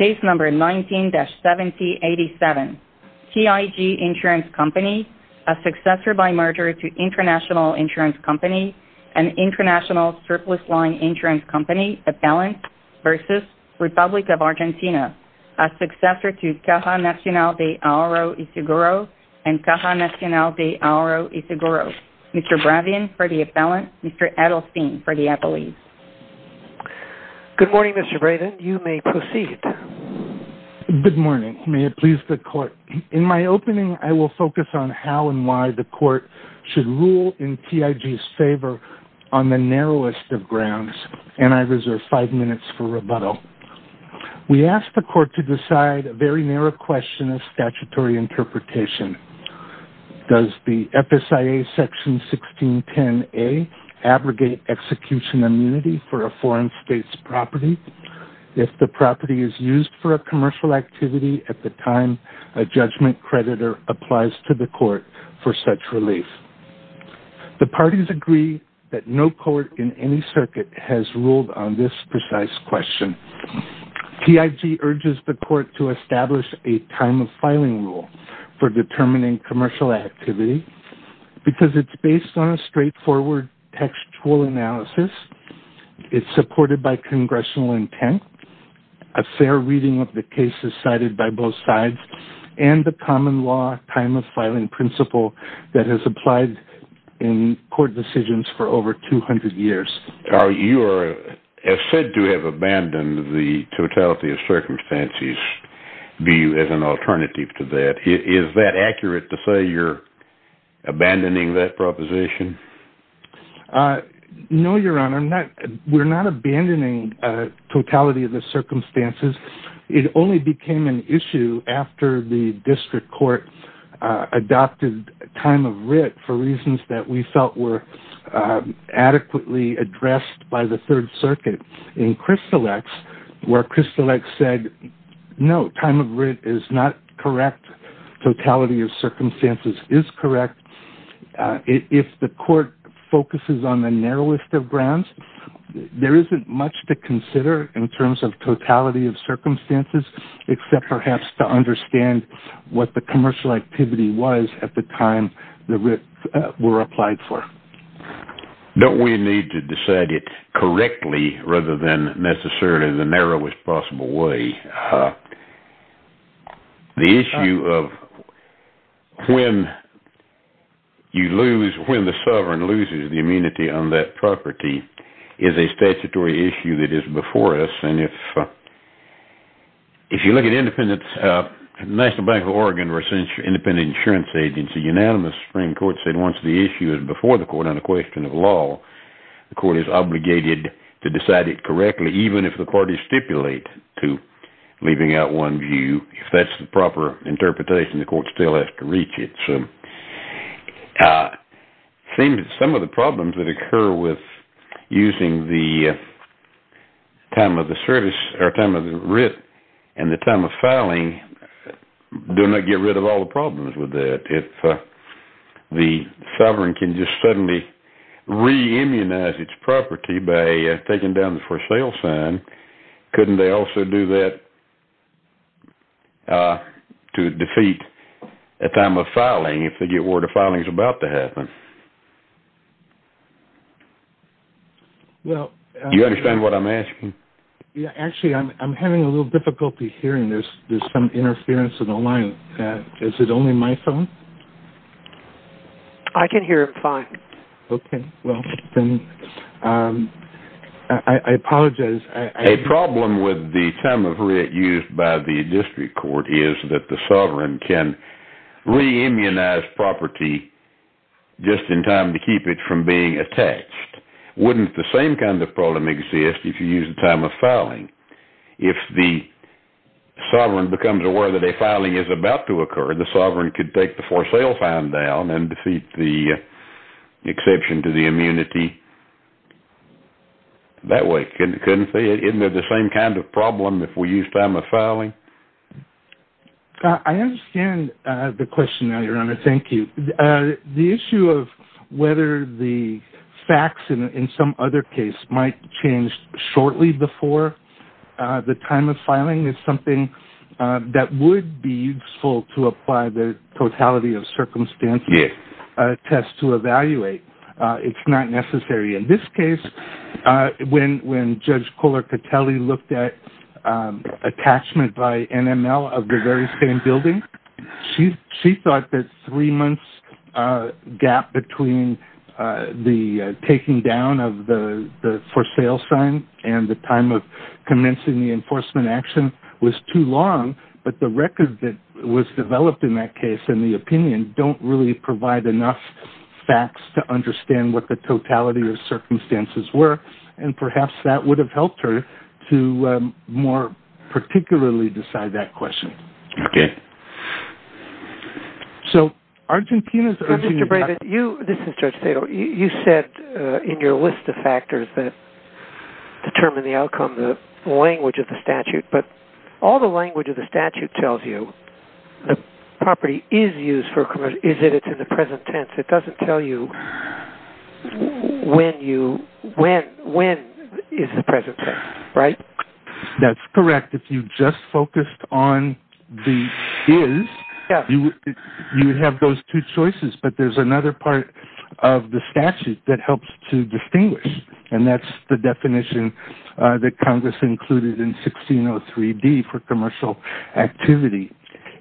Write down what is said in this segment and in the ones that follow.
19-7087 TIG Insurance Company, a successor by merger to International Insurance Company and International Surplus Line Insurance Company, Appellant v. Republic of Argentina, a successor to Caja Nacional de Auro y Seguro and Caja Nacional de Auro y Seguro, Mr. Bravion for the Appellant, Mr. Edelstein for the Appellee. Good morning, Mr. Bravion. You may proceed. Good morning. May it please the Court. In my opening, I will focus on how and why the Court should rule in TIG's favor on the narrowest of grounds, and I reserve five minutes for rebuttal. We ask the Court to decide a very narrow question of statutory interpretation. Does the FSIA Section 1610A abrogate execution immunity for a foreign state's property if the property is used for a commercial activity at the time a judgment creditor applies to the Court for such relief? The parties agree that no court in any circuit has ruled on this precise question. TIG urges the Court to establish a time-of-filing rule for determining commercial activity because it's based on a straightforward textual analysis. It's supported by congressional intent, a fair reading of the cases cited by both sides, and the common law time-of-filing principle that has applied in court decisions for over 200 years. You are said to have abandoned the totality-of-circumstances view as an alternative to that. Is that accurate to say you're abandoning that proposition? No, Your Honor. We're not abandoning totality-of-circumstances. It only became an issue after the District Court adopted time of writ for reasons that we felt were adequately addressed by the Third Circuit in Crystal X, where Crystal X said, no, time of writ is not correct. Totality-of-circumstances is correct. If the Court focuses on the narrowest of grounds, there isn't much to consider in terms of totality-of-circumstances except perhaps to understand what the commercial activity was at the time the writs were applied for. Don't we need to decide it correctly rather than necessarily in the narrowest possible way? The issue of when the sovereign loses the immunity on that property is a statutory issue that is before us. If you look at the National Bank of Oregon versus the Independent Insurance Agency, the unanimous Supreme Court said once the issue is before the court on a question of law, the court is obligated to decide it correctly even if the court is stipulated to leaving out one view. If that's the proper interpretation, the court still has to reach it. It seems that some of the problems that occur with using the time of writ and the time of filing do not get rid of all the problems with that. If the sovereign can just suddenly re-immunize its property by taking down the for sale sign, couldn't they also do that to defeat a time of filing if they get word a filing is about to happen? Do you understand what I'm asking? Actually, I'm having a little difficulty hearing. There's some interference in the line. Is it only my phone? I can hear it fine. Okay. Well, then I apologize. A problem with the time of writ used by the district court is that the sovereign can re-immunize property just in time to keep it from being attached. Wouldn't the same kind of problem exist if you use the time of filing? If the sovereign becomes aware that a filing is about to occur, the sovereign could take the for sale sign down and defeat the exception to the immunity that way, couldn't they? Isn't it the same kind of problem if we use time of filing? I understand the question now, Your Honor. Thank you. The issue of whether the facts in some other case might change shortly before the time of filing is something that would be useful to apply the totality of circumstances test to evaluate. It's not necessary. In this case, when Judge Kohler-Catelli looked at attachment by NML of the very same building, she thought that three months gap between the taking down of the for sale sign and the time of commencing the enforcement action was too long, but the record that was developed in that case and the opinion don't really provide enough facts to understand what the totality of circumstances were, and perhaps that would have helped her to more particularly decide that question. Mr. Bravid, you said in your list of factors that determine the outcome the language of the statute, but all the language of the statute tells you the property is used, is it in the present tense? It doesn't tell you when is the present tense, right? That's correct. If you just focused on the is, you would have those two choices, but there's another part of the statute that helps to distinguish, and that's the definition that Congress included in 1603D for commercial activity.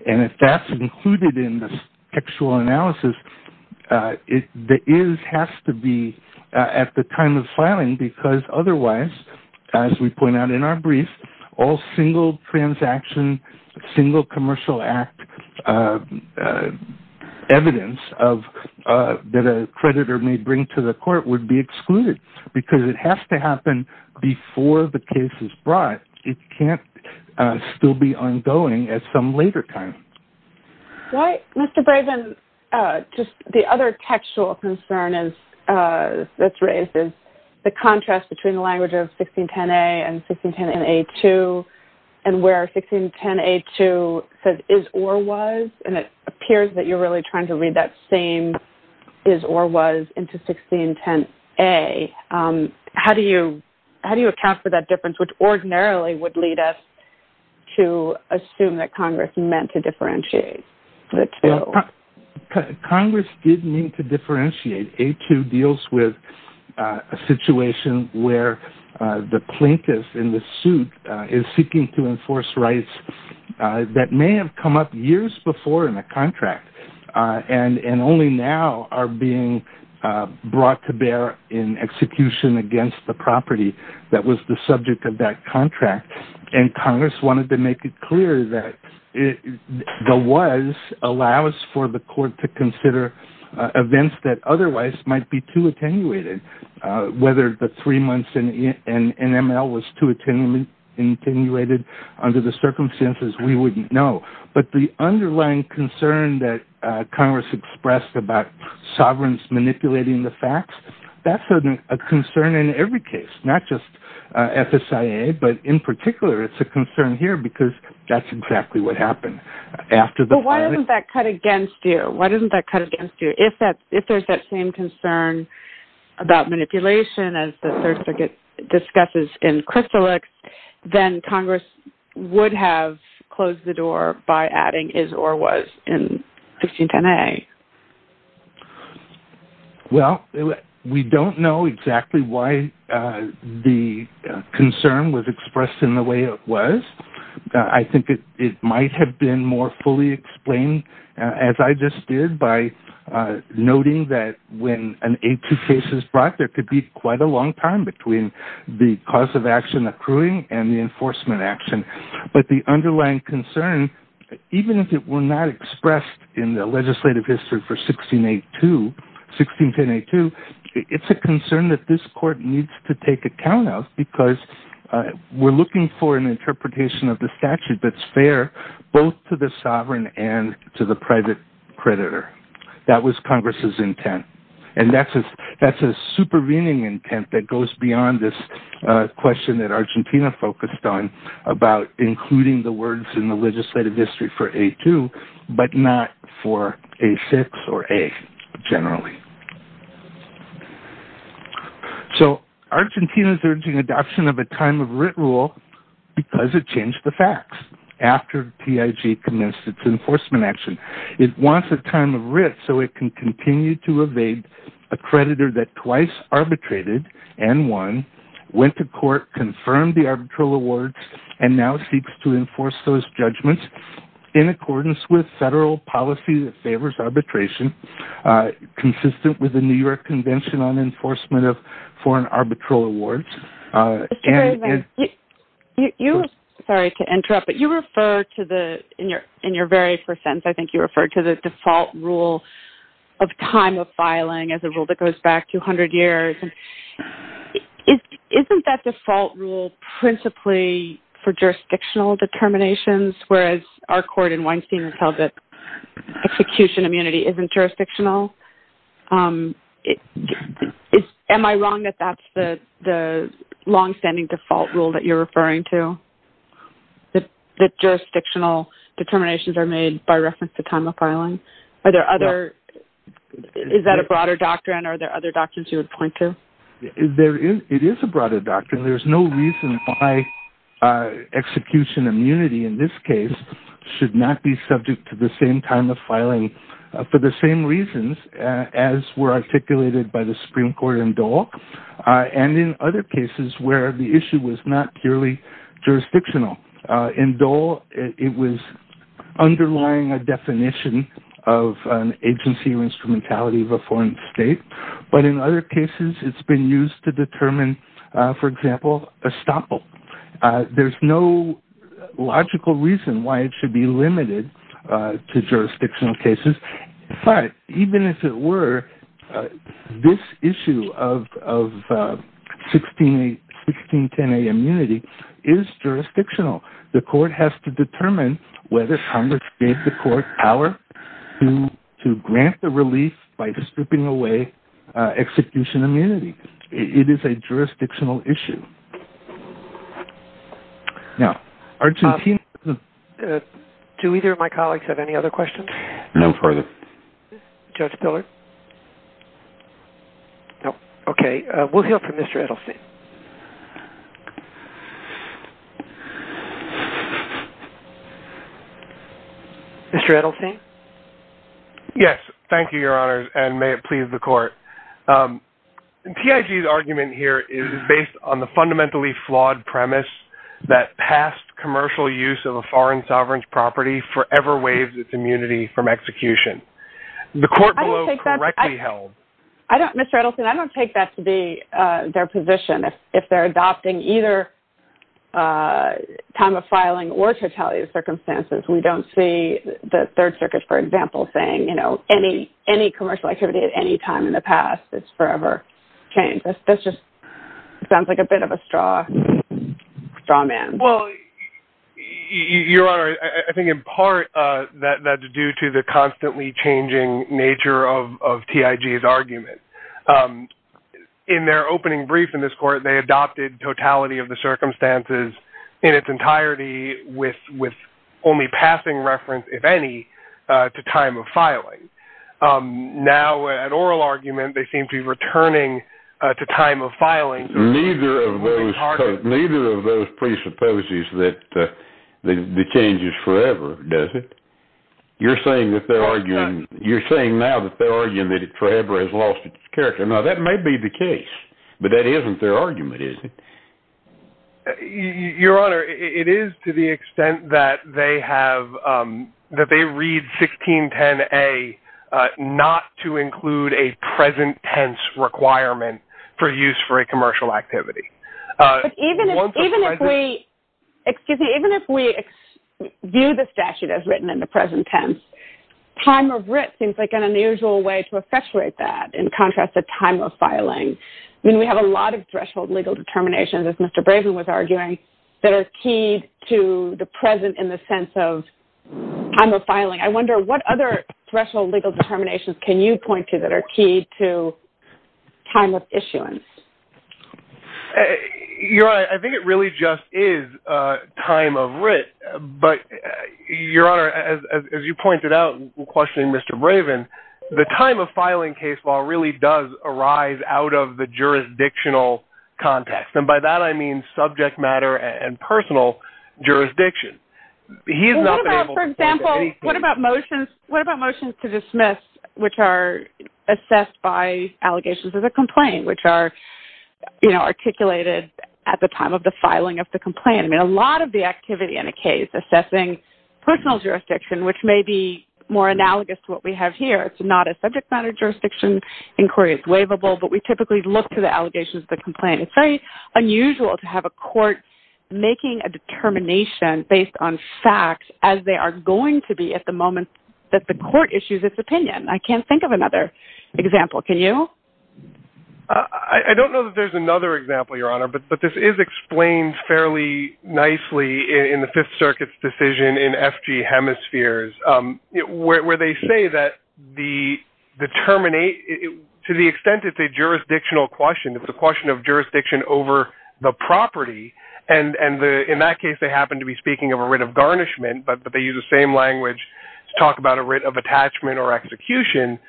If that's included in the actual analysis, the is has to be at the time of filing because otherwise, as we point out in our brief, all single transaction, single commercial act evidence that a creditor may bring to the court would be excluded because it has to happen before the case is brought. It can't still be ongoing at some later time. Right. Mr. Bravid, just the other textual concern that's raised is the contrast between the language of 1610A and 1610A2 and where 1610A2 says is or was, and it appears that you're really trying to read that same is or was into 1610A. How do you account for that difference, which ordinarily would lead us to assume that Congress meant to differentiate the two? against the property that was the subject of that contract, and Congress wanted to make it clear that the was allows for the court to consider events that otherwise might be too attenuated. Whether the three months in NML was too attenuated under the circumstances, we wouldn't know, but the underlying concern that Congress expressed about sovereigns manipulating the facts, that's a concern in every case, not just FSIA, but in particular, it's a concern here because that's exactly what happened. But why isn't that cut against you? Why isn't that cut against you? If there's that same concern about manipulation as the third circuit discusses in Crystallix, then Congress would have closed the door by adding is or was in 1610A. Well, we don't know exactly why the concern was expressed in the way it was. I think it might have been more fully explained, as I just did, by noting that when an A2 case is brought, there could be quite a long time between the cause of action accruing and the enforcement action. But the underlying concern, even if it were not expressed in the legislative history for 1610A2, it's a concern that this court needs to take account of because we're looking for an interpretation of the statute that's fair both to the sovereign and to the private creditor. That was Congress's intent, and that's a supervening intent that goes beyond this question that Argentina focused on about including the words in the legislative history for A2, but not for A6 or A generally. So Argentina's urging adoption of a time of writ rule because it changed the facts after TIG commenced its enforcement action. It wants a time of writ so it can continue to evade a creditor that twice arbitrated and won, went to court, confirmed the arbitral awards, and now seeks to enforce those judgments in accordance with federal policy that favors arbitration consistent with the New York Convention on Enforcement of Foreign Arbitral Awards. Sorry to interrupt, but in your very first sentence, I think you referred to the default rule of time of filing as a rule that goes back 200 years. Isn't that default rule principally for jurisdictional determinations, whereas our court in Weinstein has held that execution immunity isn't jurisdictional? Am I wrong that that's the longstanding default rule that you're referring to, that jurisdictional determinations are made by reference to time of filing? Is that a broader doctrine, or are there other doctrines you would point to? It is a broader doctrine. There's no reason why execution immunity in this case should not be subject to the same time of filing for the same reasons as were articulated by the Supreme Court in Dole and in other cases where the issue was not purely jurisdictional. In Dole, it was underlying a definition of an agency or instrumentality of a foreign state, but in other cases, it's been used to determine, for example, estoppel. There's no logical reason why it should be limited to jurisdictional cases, but even if it were, this issue of 1610A immunity is jurisdictional. The court has to determine whether Congress gave the court power to grant the release by stripping away execution immunity. It is a jurisdictional issue. Do either of my colleagues have any other questions? No further. Judge Pillar? Okay, we'll hear from Mr. Edelstein. Mr. Edelstein? Yes, thank you, Your Honor, and may it please the court. PIG's argument here is based on the fundamentally flawed premise that past commercial use of a foreign sovereign's property forever waives its immunity from execution. The court below correctly held… Mr. Edelstein, I don't take that to be their position. If they're adopting either time of filing or totality of circumstances, we don't see the Third Circuit, for example, saying, you know, any commercial activity at any time in the past is forever changed. That just sounds like a bit of a straw man. Well, Your Honor, I think in part that's due to the constantly changing nature of PIG's argument. In their opening brief in this court, they adopted totality of the circumstances in its entirety with only passing reference, if any, to time of filing. Now, at oral argument, they seem to be returning to time of filing. Neither of those presupposes that the change is forever, does it? You're saying now that they're arguing that it forever has lost its character. Now, that may be the case, but that isn't their argument, is it? Your Honor, it is to the extent that they read 1610A not to include a present tense requirement for use for a commercial activity. But even if we view the statute as written in the present tense, time of writ seems like an unusual way to accentuate that in contrast to time of filing. I mean, we have a lot of threshold legal determinations, as Mr. Brazen was arguing, that are key to the present in the sense of time of filing. I wonder what other threshold legal determinations can you point to that are key to time of issuance? Your Honor, I think it really just is time of writ. But, Your Honor, as you pointed out in questioning Mr. Brazen, the time of filing case law really does arise out of the jurisdictional context. And by that, I mean subject matter and personal jurisdiction. Well, what about, for example, what about motions to dismiss, which are assessed by allegations of a complaint, which are articulated at the time of the filing of the complaint? I mean, a lot of the activity in a case assessing personal jurisdiction, which may be more analogous to what we have here, it's not a subject matter jurisdiction inquiry. It's waivable, but we typically look to the allegations of the complaint. It's very unusual to have a court making a determination based on facts as they are going to be at the moment that the court issues its opinion. I can't think of another example. Can you? I don't know that there's another example, Your Honor, but this is explained fairly nicely in the Fifth Circuit's decision in F.G. Hemispheres, where they say that to the extent it's a jurisdictional question, it's a question of jurisdiction over the property, and in that case they happen to be speaking of a writ of garnishment, but they use the same language to talk about a writ of attachment or execution.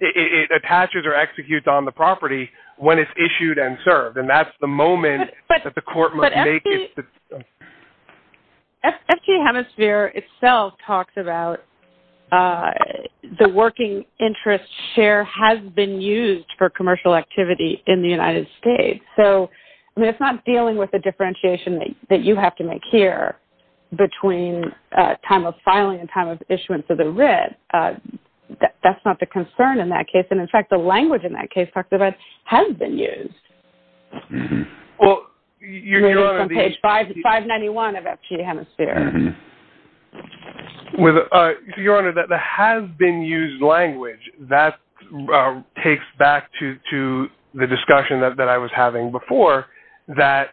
It attaches or executes on the property when it's issued and served, and that's the moment that the court might make it. F.G. Hemisphere itself talks about the working interest share has been used for commercial activity in the United States, so it's not dealing with the differentiation that you have to make here between time of filing and time of issuance of the writ. That's not the concern in that case, and, in fact, the language in that case talked about has been used. It's on page 591 of F.G. Hemisphere. Your Honor, the has been used language, that takes back to the discussion that I was having before, that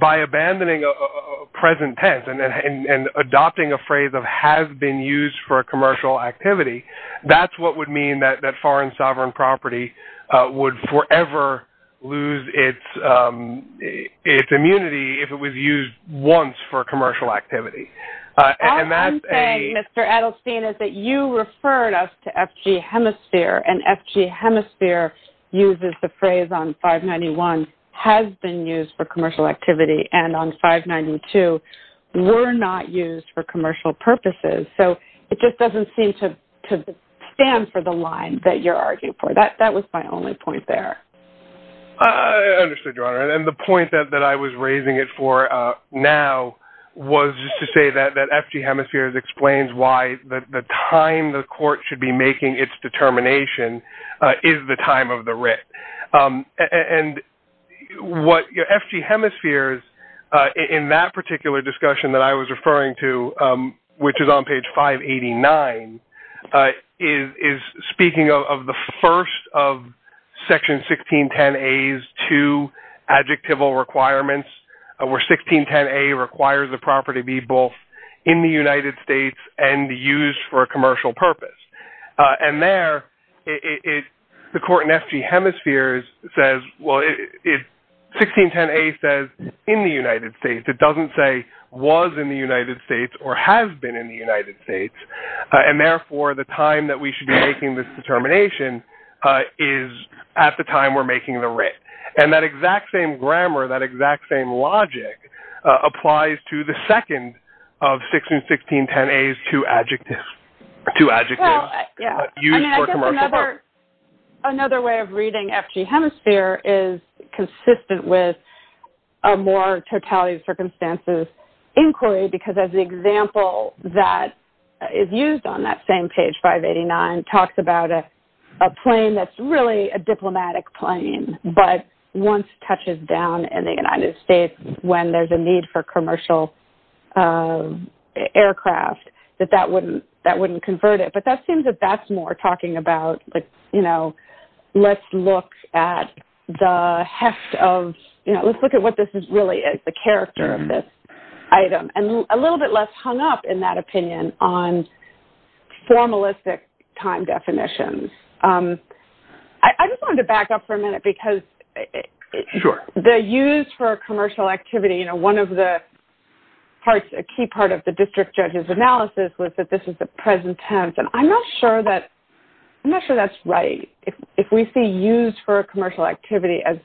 by abandoning a present tense and adopting a phrase of has been used for commercial activity, that's what would mean that foreign sovereign property would forever lose its immunity if it was used once for commercial activity. All I'm saying, Mr. Edelstein, is that you referred us to F.G. Hemisphere, and F.G. Hemisphere uses the phrase on 591, has been used for commercial activity, and on 592 were not used for commercial purposes, so it just doesn't seem to stand for the line that you're arguing for. That was my only point there. I understood, Your Honor, and the point that I was raising it for now was to say that F.G. Hemisphere explains why the time the court should be making its determination is the time of the writ. And what F.G. Hemisphere, in that particular discussion that I was referring to, which is on page 589, is speaking of the first of Section 1610A's two adjectival requirements, where 1610A requires the property be both in the United States and used for a commercial purpose. And there, the court in F.G. Hemisphere says, well, 1610A says in the United States. It doesn't say was in the United States or has been in the United States, and therefore the time that we should be making this determination is at the time we're making the writ. And that exact same grammar, that exact same logic applies to the second of 1610A's two adjectives used for commercial purposes. I guess another way of reading F.G. Hemisphere is consistent with a more totality of circumstances inquiry, because as the example that is used on that same page, 589, talks about a plane that's really a diplomatic plane, but once it touches down in the United States, when there's a need for commercial aircraft, that that wouldn't convert it. But that seems that that's more talking about, you know, let's look at the heft of, you know, let's look at what this really is, the character of this item. And a little bit less hung up in that opinion on formalistic time definitions. I just wanted to back up for a minute, because the use for commercial activity, you know, one of the parts, a key part of the district judge's analysis was that this is the present tense, and I'm not sure that's right. If we see used for commercial activity as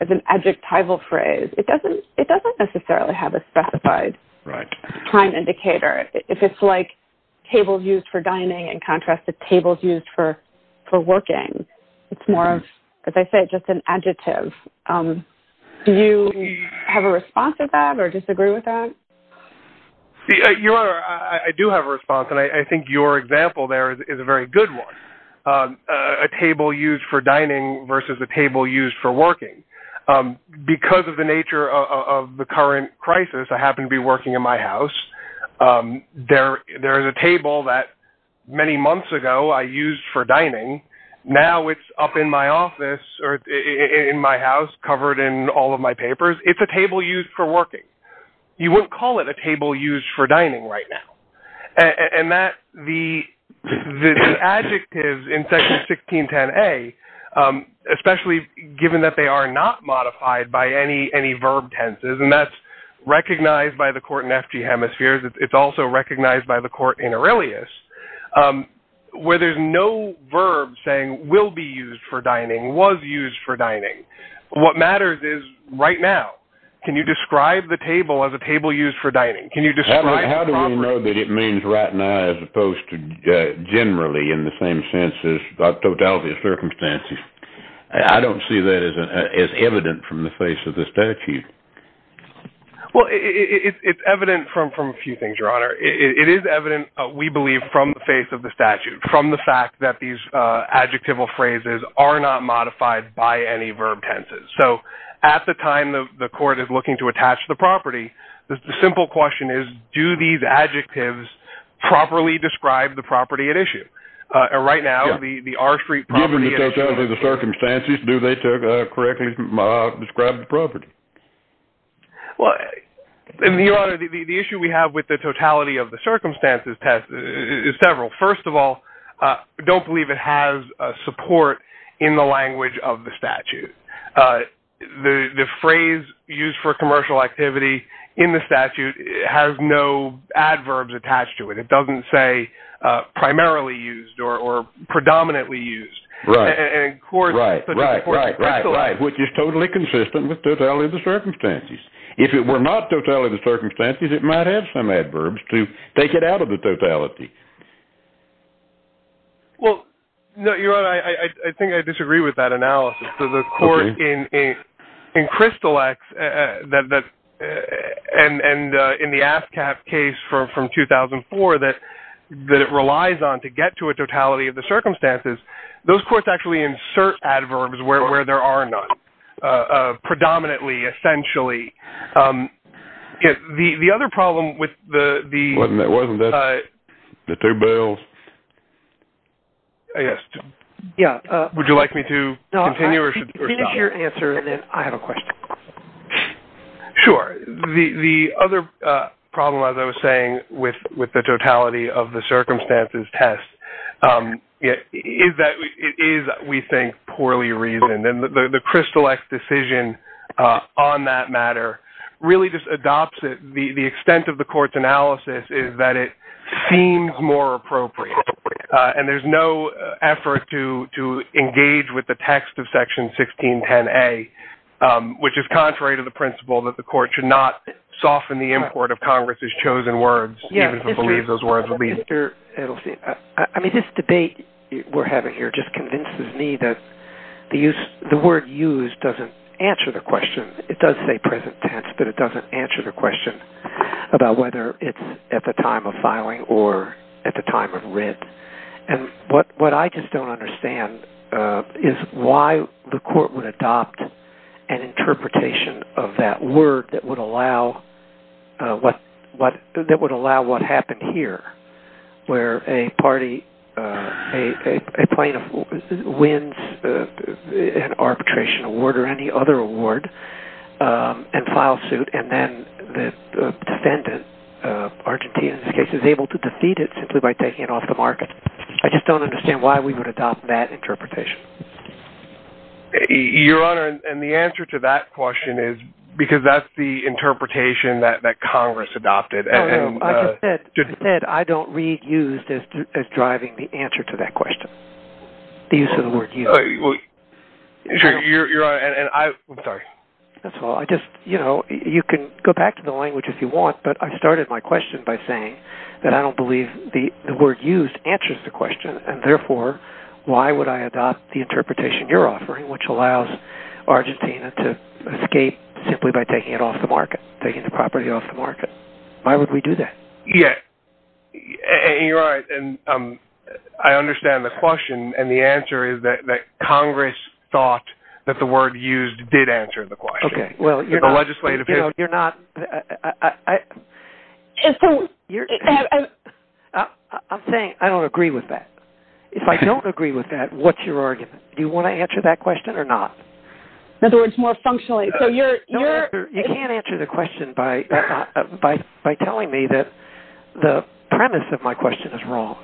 an adjectival phrase, it doesn't necessarily have a specified time indicator. If it's like tables used for dining in contrast to tables used for working, it's more of, as I said, just an adjective. Do you have a response to that or disagree with that? I do have a response, and I think your example there is a very good one. A table used for dining versus a table used for working. Because of the nature of the current crisis, I happen to be working in my house. There is a table that many months ago I used for dining. Now it's up in my office or in my house covered in all of my papers. It's a table used for working. You wouldn't call it a table used for dining right now. The adjectives in Section 1610A, especially given that they are not modified by any verb tenses, and that's recognized by the court in F.G. Hemispheres. It's also recognized by the court in Aurelius where there's no verb saying will be used for dining, was used for dining. What matters is right now. Can you describe the table as a table used for dining? How do we know that it means right now as opposed to generally in the same sense as totality of circumstances? I don't see that as evident from the face of the statute. Well, it's evident from a few things, Your Honor. It is evident, we believe, from the face of the statute, from the fact that these adjectival phrases are not modified by any verb tenses. So at the time the court is looking to attach the property, the simple question is, do these adjectives properly describe the property at issue? Right now, the R Street property- Given the totality of the circumstances, do they correctly describe the property? Well, Your Honor, the issue we have with the totality of the circumstances is several. First of all, don't believe it has support in the language of the statute. The phrase used for commercial activity in the statute has no adverbs attached to it. It doesn't say primarily used or predominantly used. Right, right, right. Which is totally consistent with totality of the circumstances. If it were not totality of the circumstances, it might have some adverbs to take it out of the totality. Well, Your Honor, I think I disagree with that analysis. The court in Crystal X and in the ASCAP case from 2004 that it relies on to get to a totality of the circumstances, those courts actually insert adverbs where there are none. Predominantly, essentially. The other problem with the- Wasn't there two bills? Yes. Would you like me to continue or stop? Finish your answer and then I have a question. Sure. The other problem, as I was saying, with the totality of the circumstances test is that we think poorly reasoned. The Crystal X decision on that matter really just adopts it. The extent of the court's analysis is that it seems more appropriate. And there's no effort to engage with the text of Section 1610A, which is contrary to the principle that the court should not soften the import of Congress's chosen words, even if it believes those words are legal. I mean, this debate we're having here just convinces me that the word used doesn't answer the question. It does say present tense, but it doesn't answer the question about whether it's at the time of filing or at the time of writ. And what I just don't understand is why the court would adopt an interpretation of that word that would allow what happened here, where a party, a plaintiff wins an arbitration award or any other award and files suit, and then the defendant, Argentine in this case, is able to defeat it simply by taking it off the market. I just don't understand why we would adopt that interpretation. Your Honor, and the answer to that question is because that's the interpretation that Congress adopted. I just said I don't read used as driving the answer to that question, the use of the word used. Your Honor, and I'm sorry. That's all. You can go back to the language if you want, but I started my question by saying that I don't believe the word used answers the question, and therefore, why would I adopt the interpretation you're offering, which allows Argentina to escape simply by taking it off the market, taking the property off the market? Why would we do that? Yes, and you're right. I understand the question, and the answer is that Congress thought that the word used did answer the question. Okay. Well, you're not… The legislative… You're not… I'm saying I don't agree with that. If I don't agree with that, what's your argument? Do you want to answer that question or not? In other words, more functionally, so you're… You can't answer the question by telling me that the premise of my question is wrong.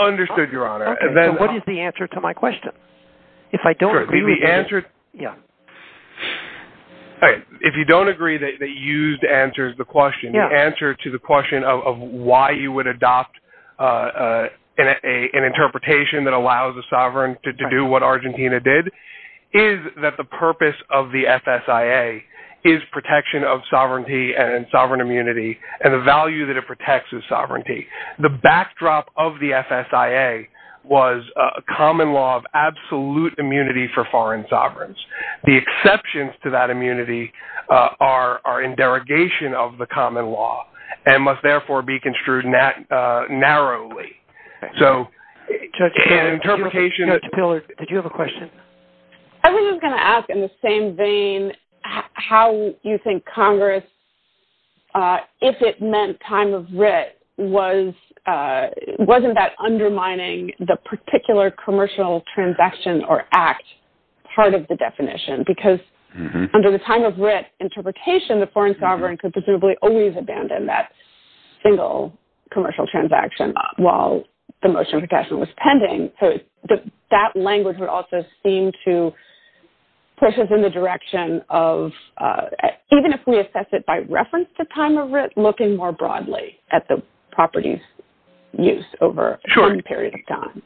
Understood, Your Honor. Okay, so what is the answer to my question? If I don't agree with that… Sure, the answer… Yeah. If you don't agree that used answers the question, the answer to the question of why you would adopt an interpretation that allows a sovereign to do what Argentina did is that the purpose of the FSIA is protection of sovereignty and sovereign immunity and the value that it protects is sovereignty. The backdrop of the FSIA was a common law of absolute immunity for foreign sovereigns. The exceptions to that immunity are in derogation of the common law and must therefore be construed narrowly. So an interpretation… Did you have a question? I was just going to ask in the same vein how you think Congress, if it meant time of writ, wasn't that undermining the particular commercial transaction or act part of the definition because under the time of writ interpretation, the foreign sovereign could presumably always abandon that single commercial transaction while the motion of protection was pending. So that language would also seem to push us in the direction of, even if we assess it by reference to time of writ, looking more broadly at the property's use over a certain period of time.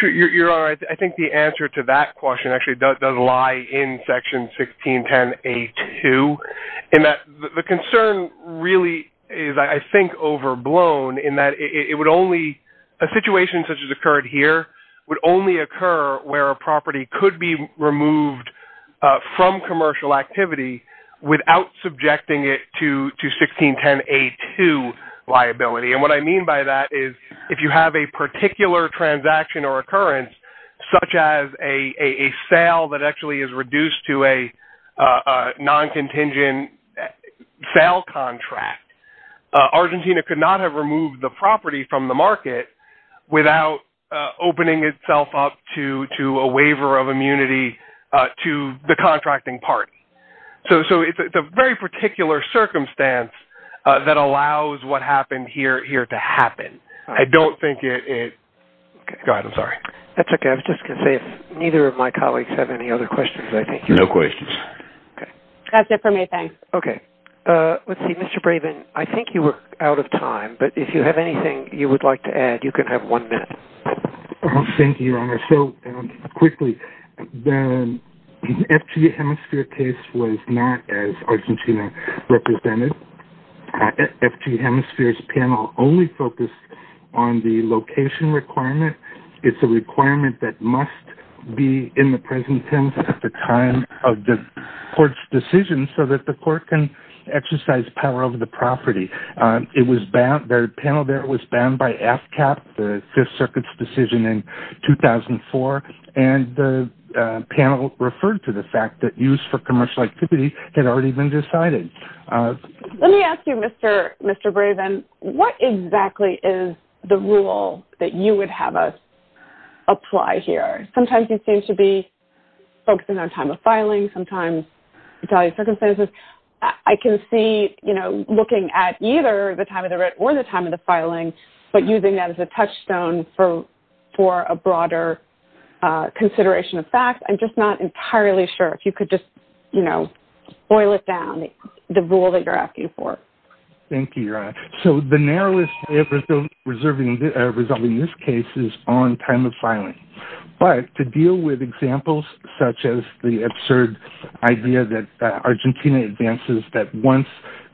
Sure. You're right. I think the answer to that question actually does lie in Section 1610A2 in that the concern really is, I think, overblown in that a situation such as occurred here would only occur where a property could be removed from commercial activity without subjecting it to 1610A2 liability. And what I mean by that is if you have a particular transaction or occurrence, such as a sale that actually is reduced to a non-contingent sale contract, Argentina could not have removed the property from the market without opening itself up to a waiver of immunity to the contracting party. So it's a very particular circumstance that allows what happened here to happen. I don't think it – go ahead, I'm sorry. That's okay. I was just going to say if neither of my colleagues have any other questions. No questions. Okay. That's it for me, thanks. Okay. Let's see, Mr. Bravin, I think you were out of time, but if you have anything you would like to add, you can have one minute. Thank you, Your Honor. So quickly, the FG Hemisphere case was not as Argentina represented. FG Hemisphere's panel only focused on the location requirement. It's a requirement that must be in the present tense at the time of the court's decision so that the court can exercise power over the property. The panel there was banned by AFCAP, the Fifth Circuit's decision in 2004, and the panel referred to the fact that use for commercial activity had already been decided. Let me ask you, Mr. Bravin, what exactly is the rule that you would have us apply here? Sometimes you seem to be focusing on time of filing. Sometimes you're talking about circumstances. I can see, you know, looking at either the time of the writ or the time of the filing, but using that as a touchstone for a broader consideration of facts. I'm just not entirely sure if you could just, you know, boil it down, the rule that you're asking for. Thank you, Your Honor. So the narrowest way of resolving this case is on time of filing. But to deal with examples such as the absurd idea that Argentina advances that once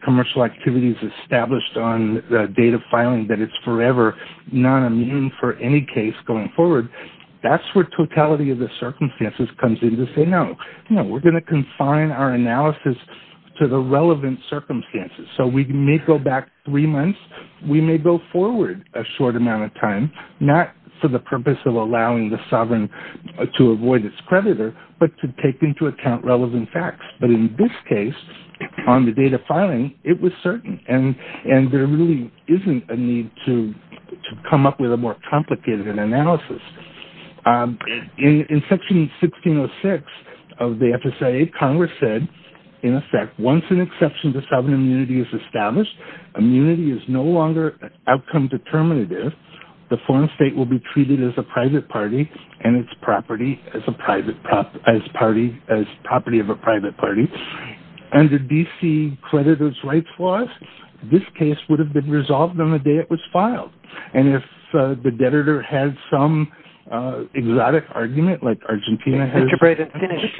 commercial activity is established on the date of filing that it's forever non-immune for any case going forward, that's where totality of the circumstances comes in to say no. No, we're going to confine our analysis to the relevant circumstances. So we may go back three months. We may go forward a short amount of time, not for the purpose of allowing the sovereign to avoid its creditor, but to take into account relevant facts. But in this case, on the date of filing, it was certain. And there really isn't a need to come up with a more complicated analysis. In Section 1606 of the FSIA, Congress said, in effect, once an exception to sovereign immunity is established, immunity is no longer outcome determinative. The foreign state will be treated as a private party and its property as property of a private party. Under D.C. creditor's rights laws, this case would have been resolved on the day it was filed. And if the debtor had some exotic argument, like Argentina has. Mr. Brayden,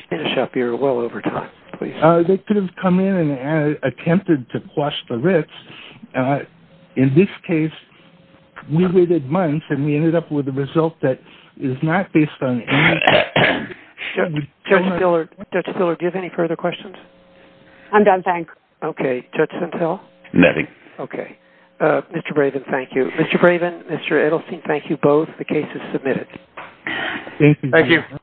finish up your well over time, please. They could have come in and attempted to quash the writs. In this case, we waited months, and we ended up with a result that is not based on any of that. Judge Miller, do you have any further questions? I'm done, thank you. Okay. Judge Sentell? Nothing. Okay. Mr. Brayden, thank you. Mr. Brayden, Mr. Edelstein, thank you both. The case is submitted. Thank you. Thank you.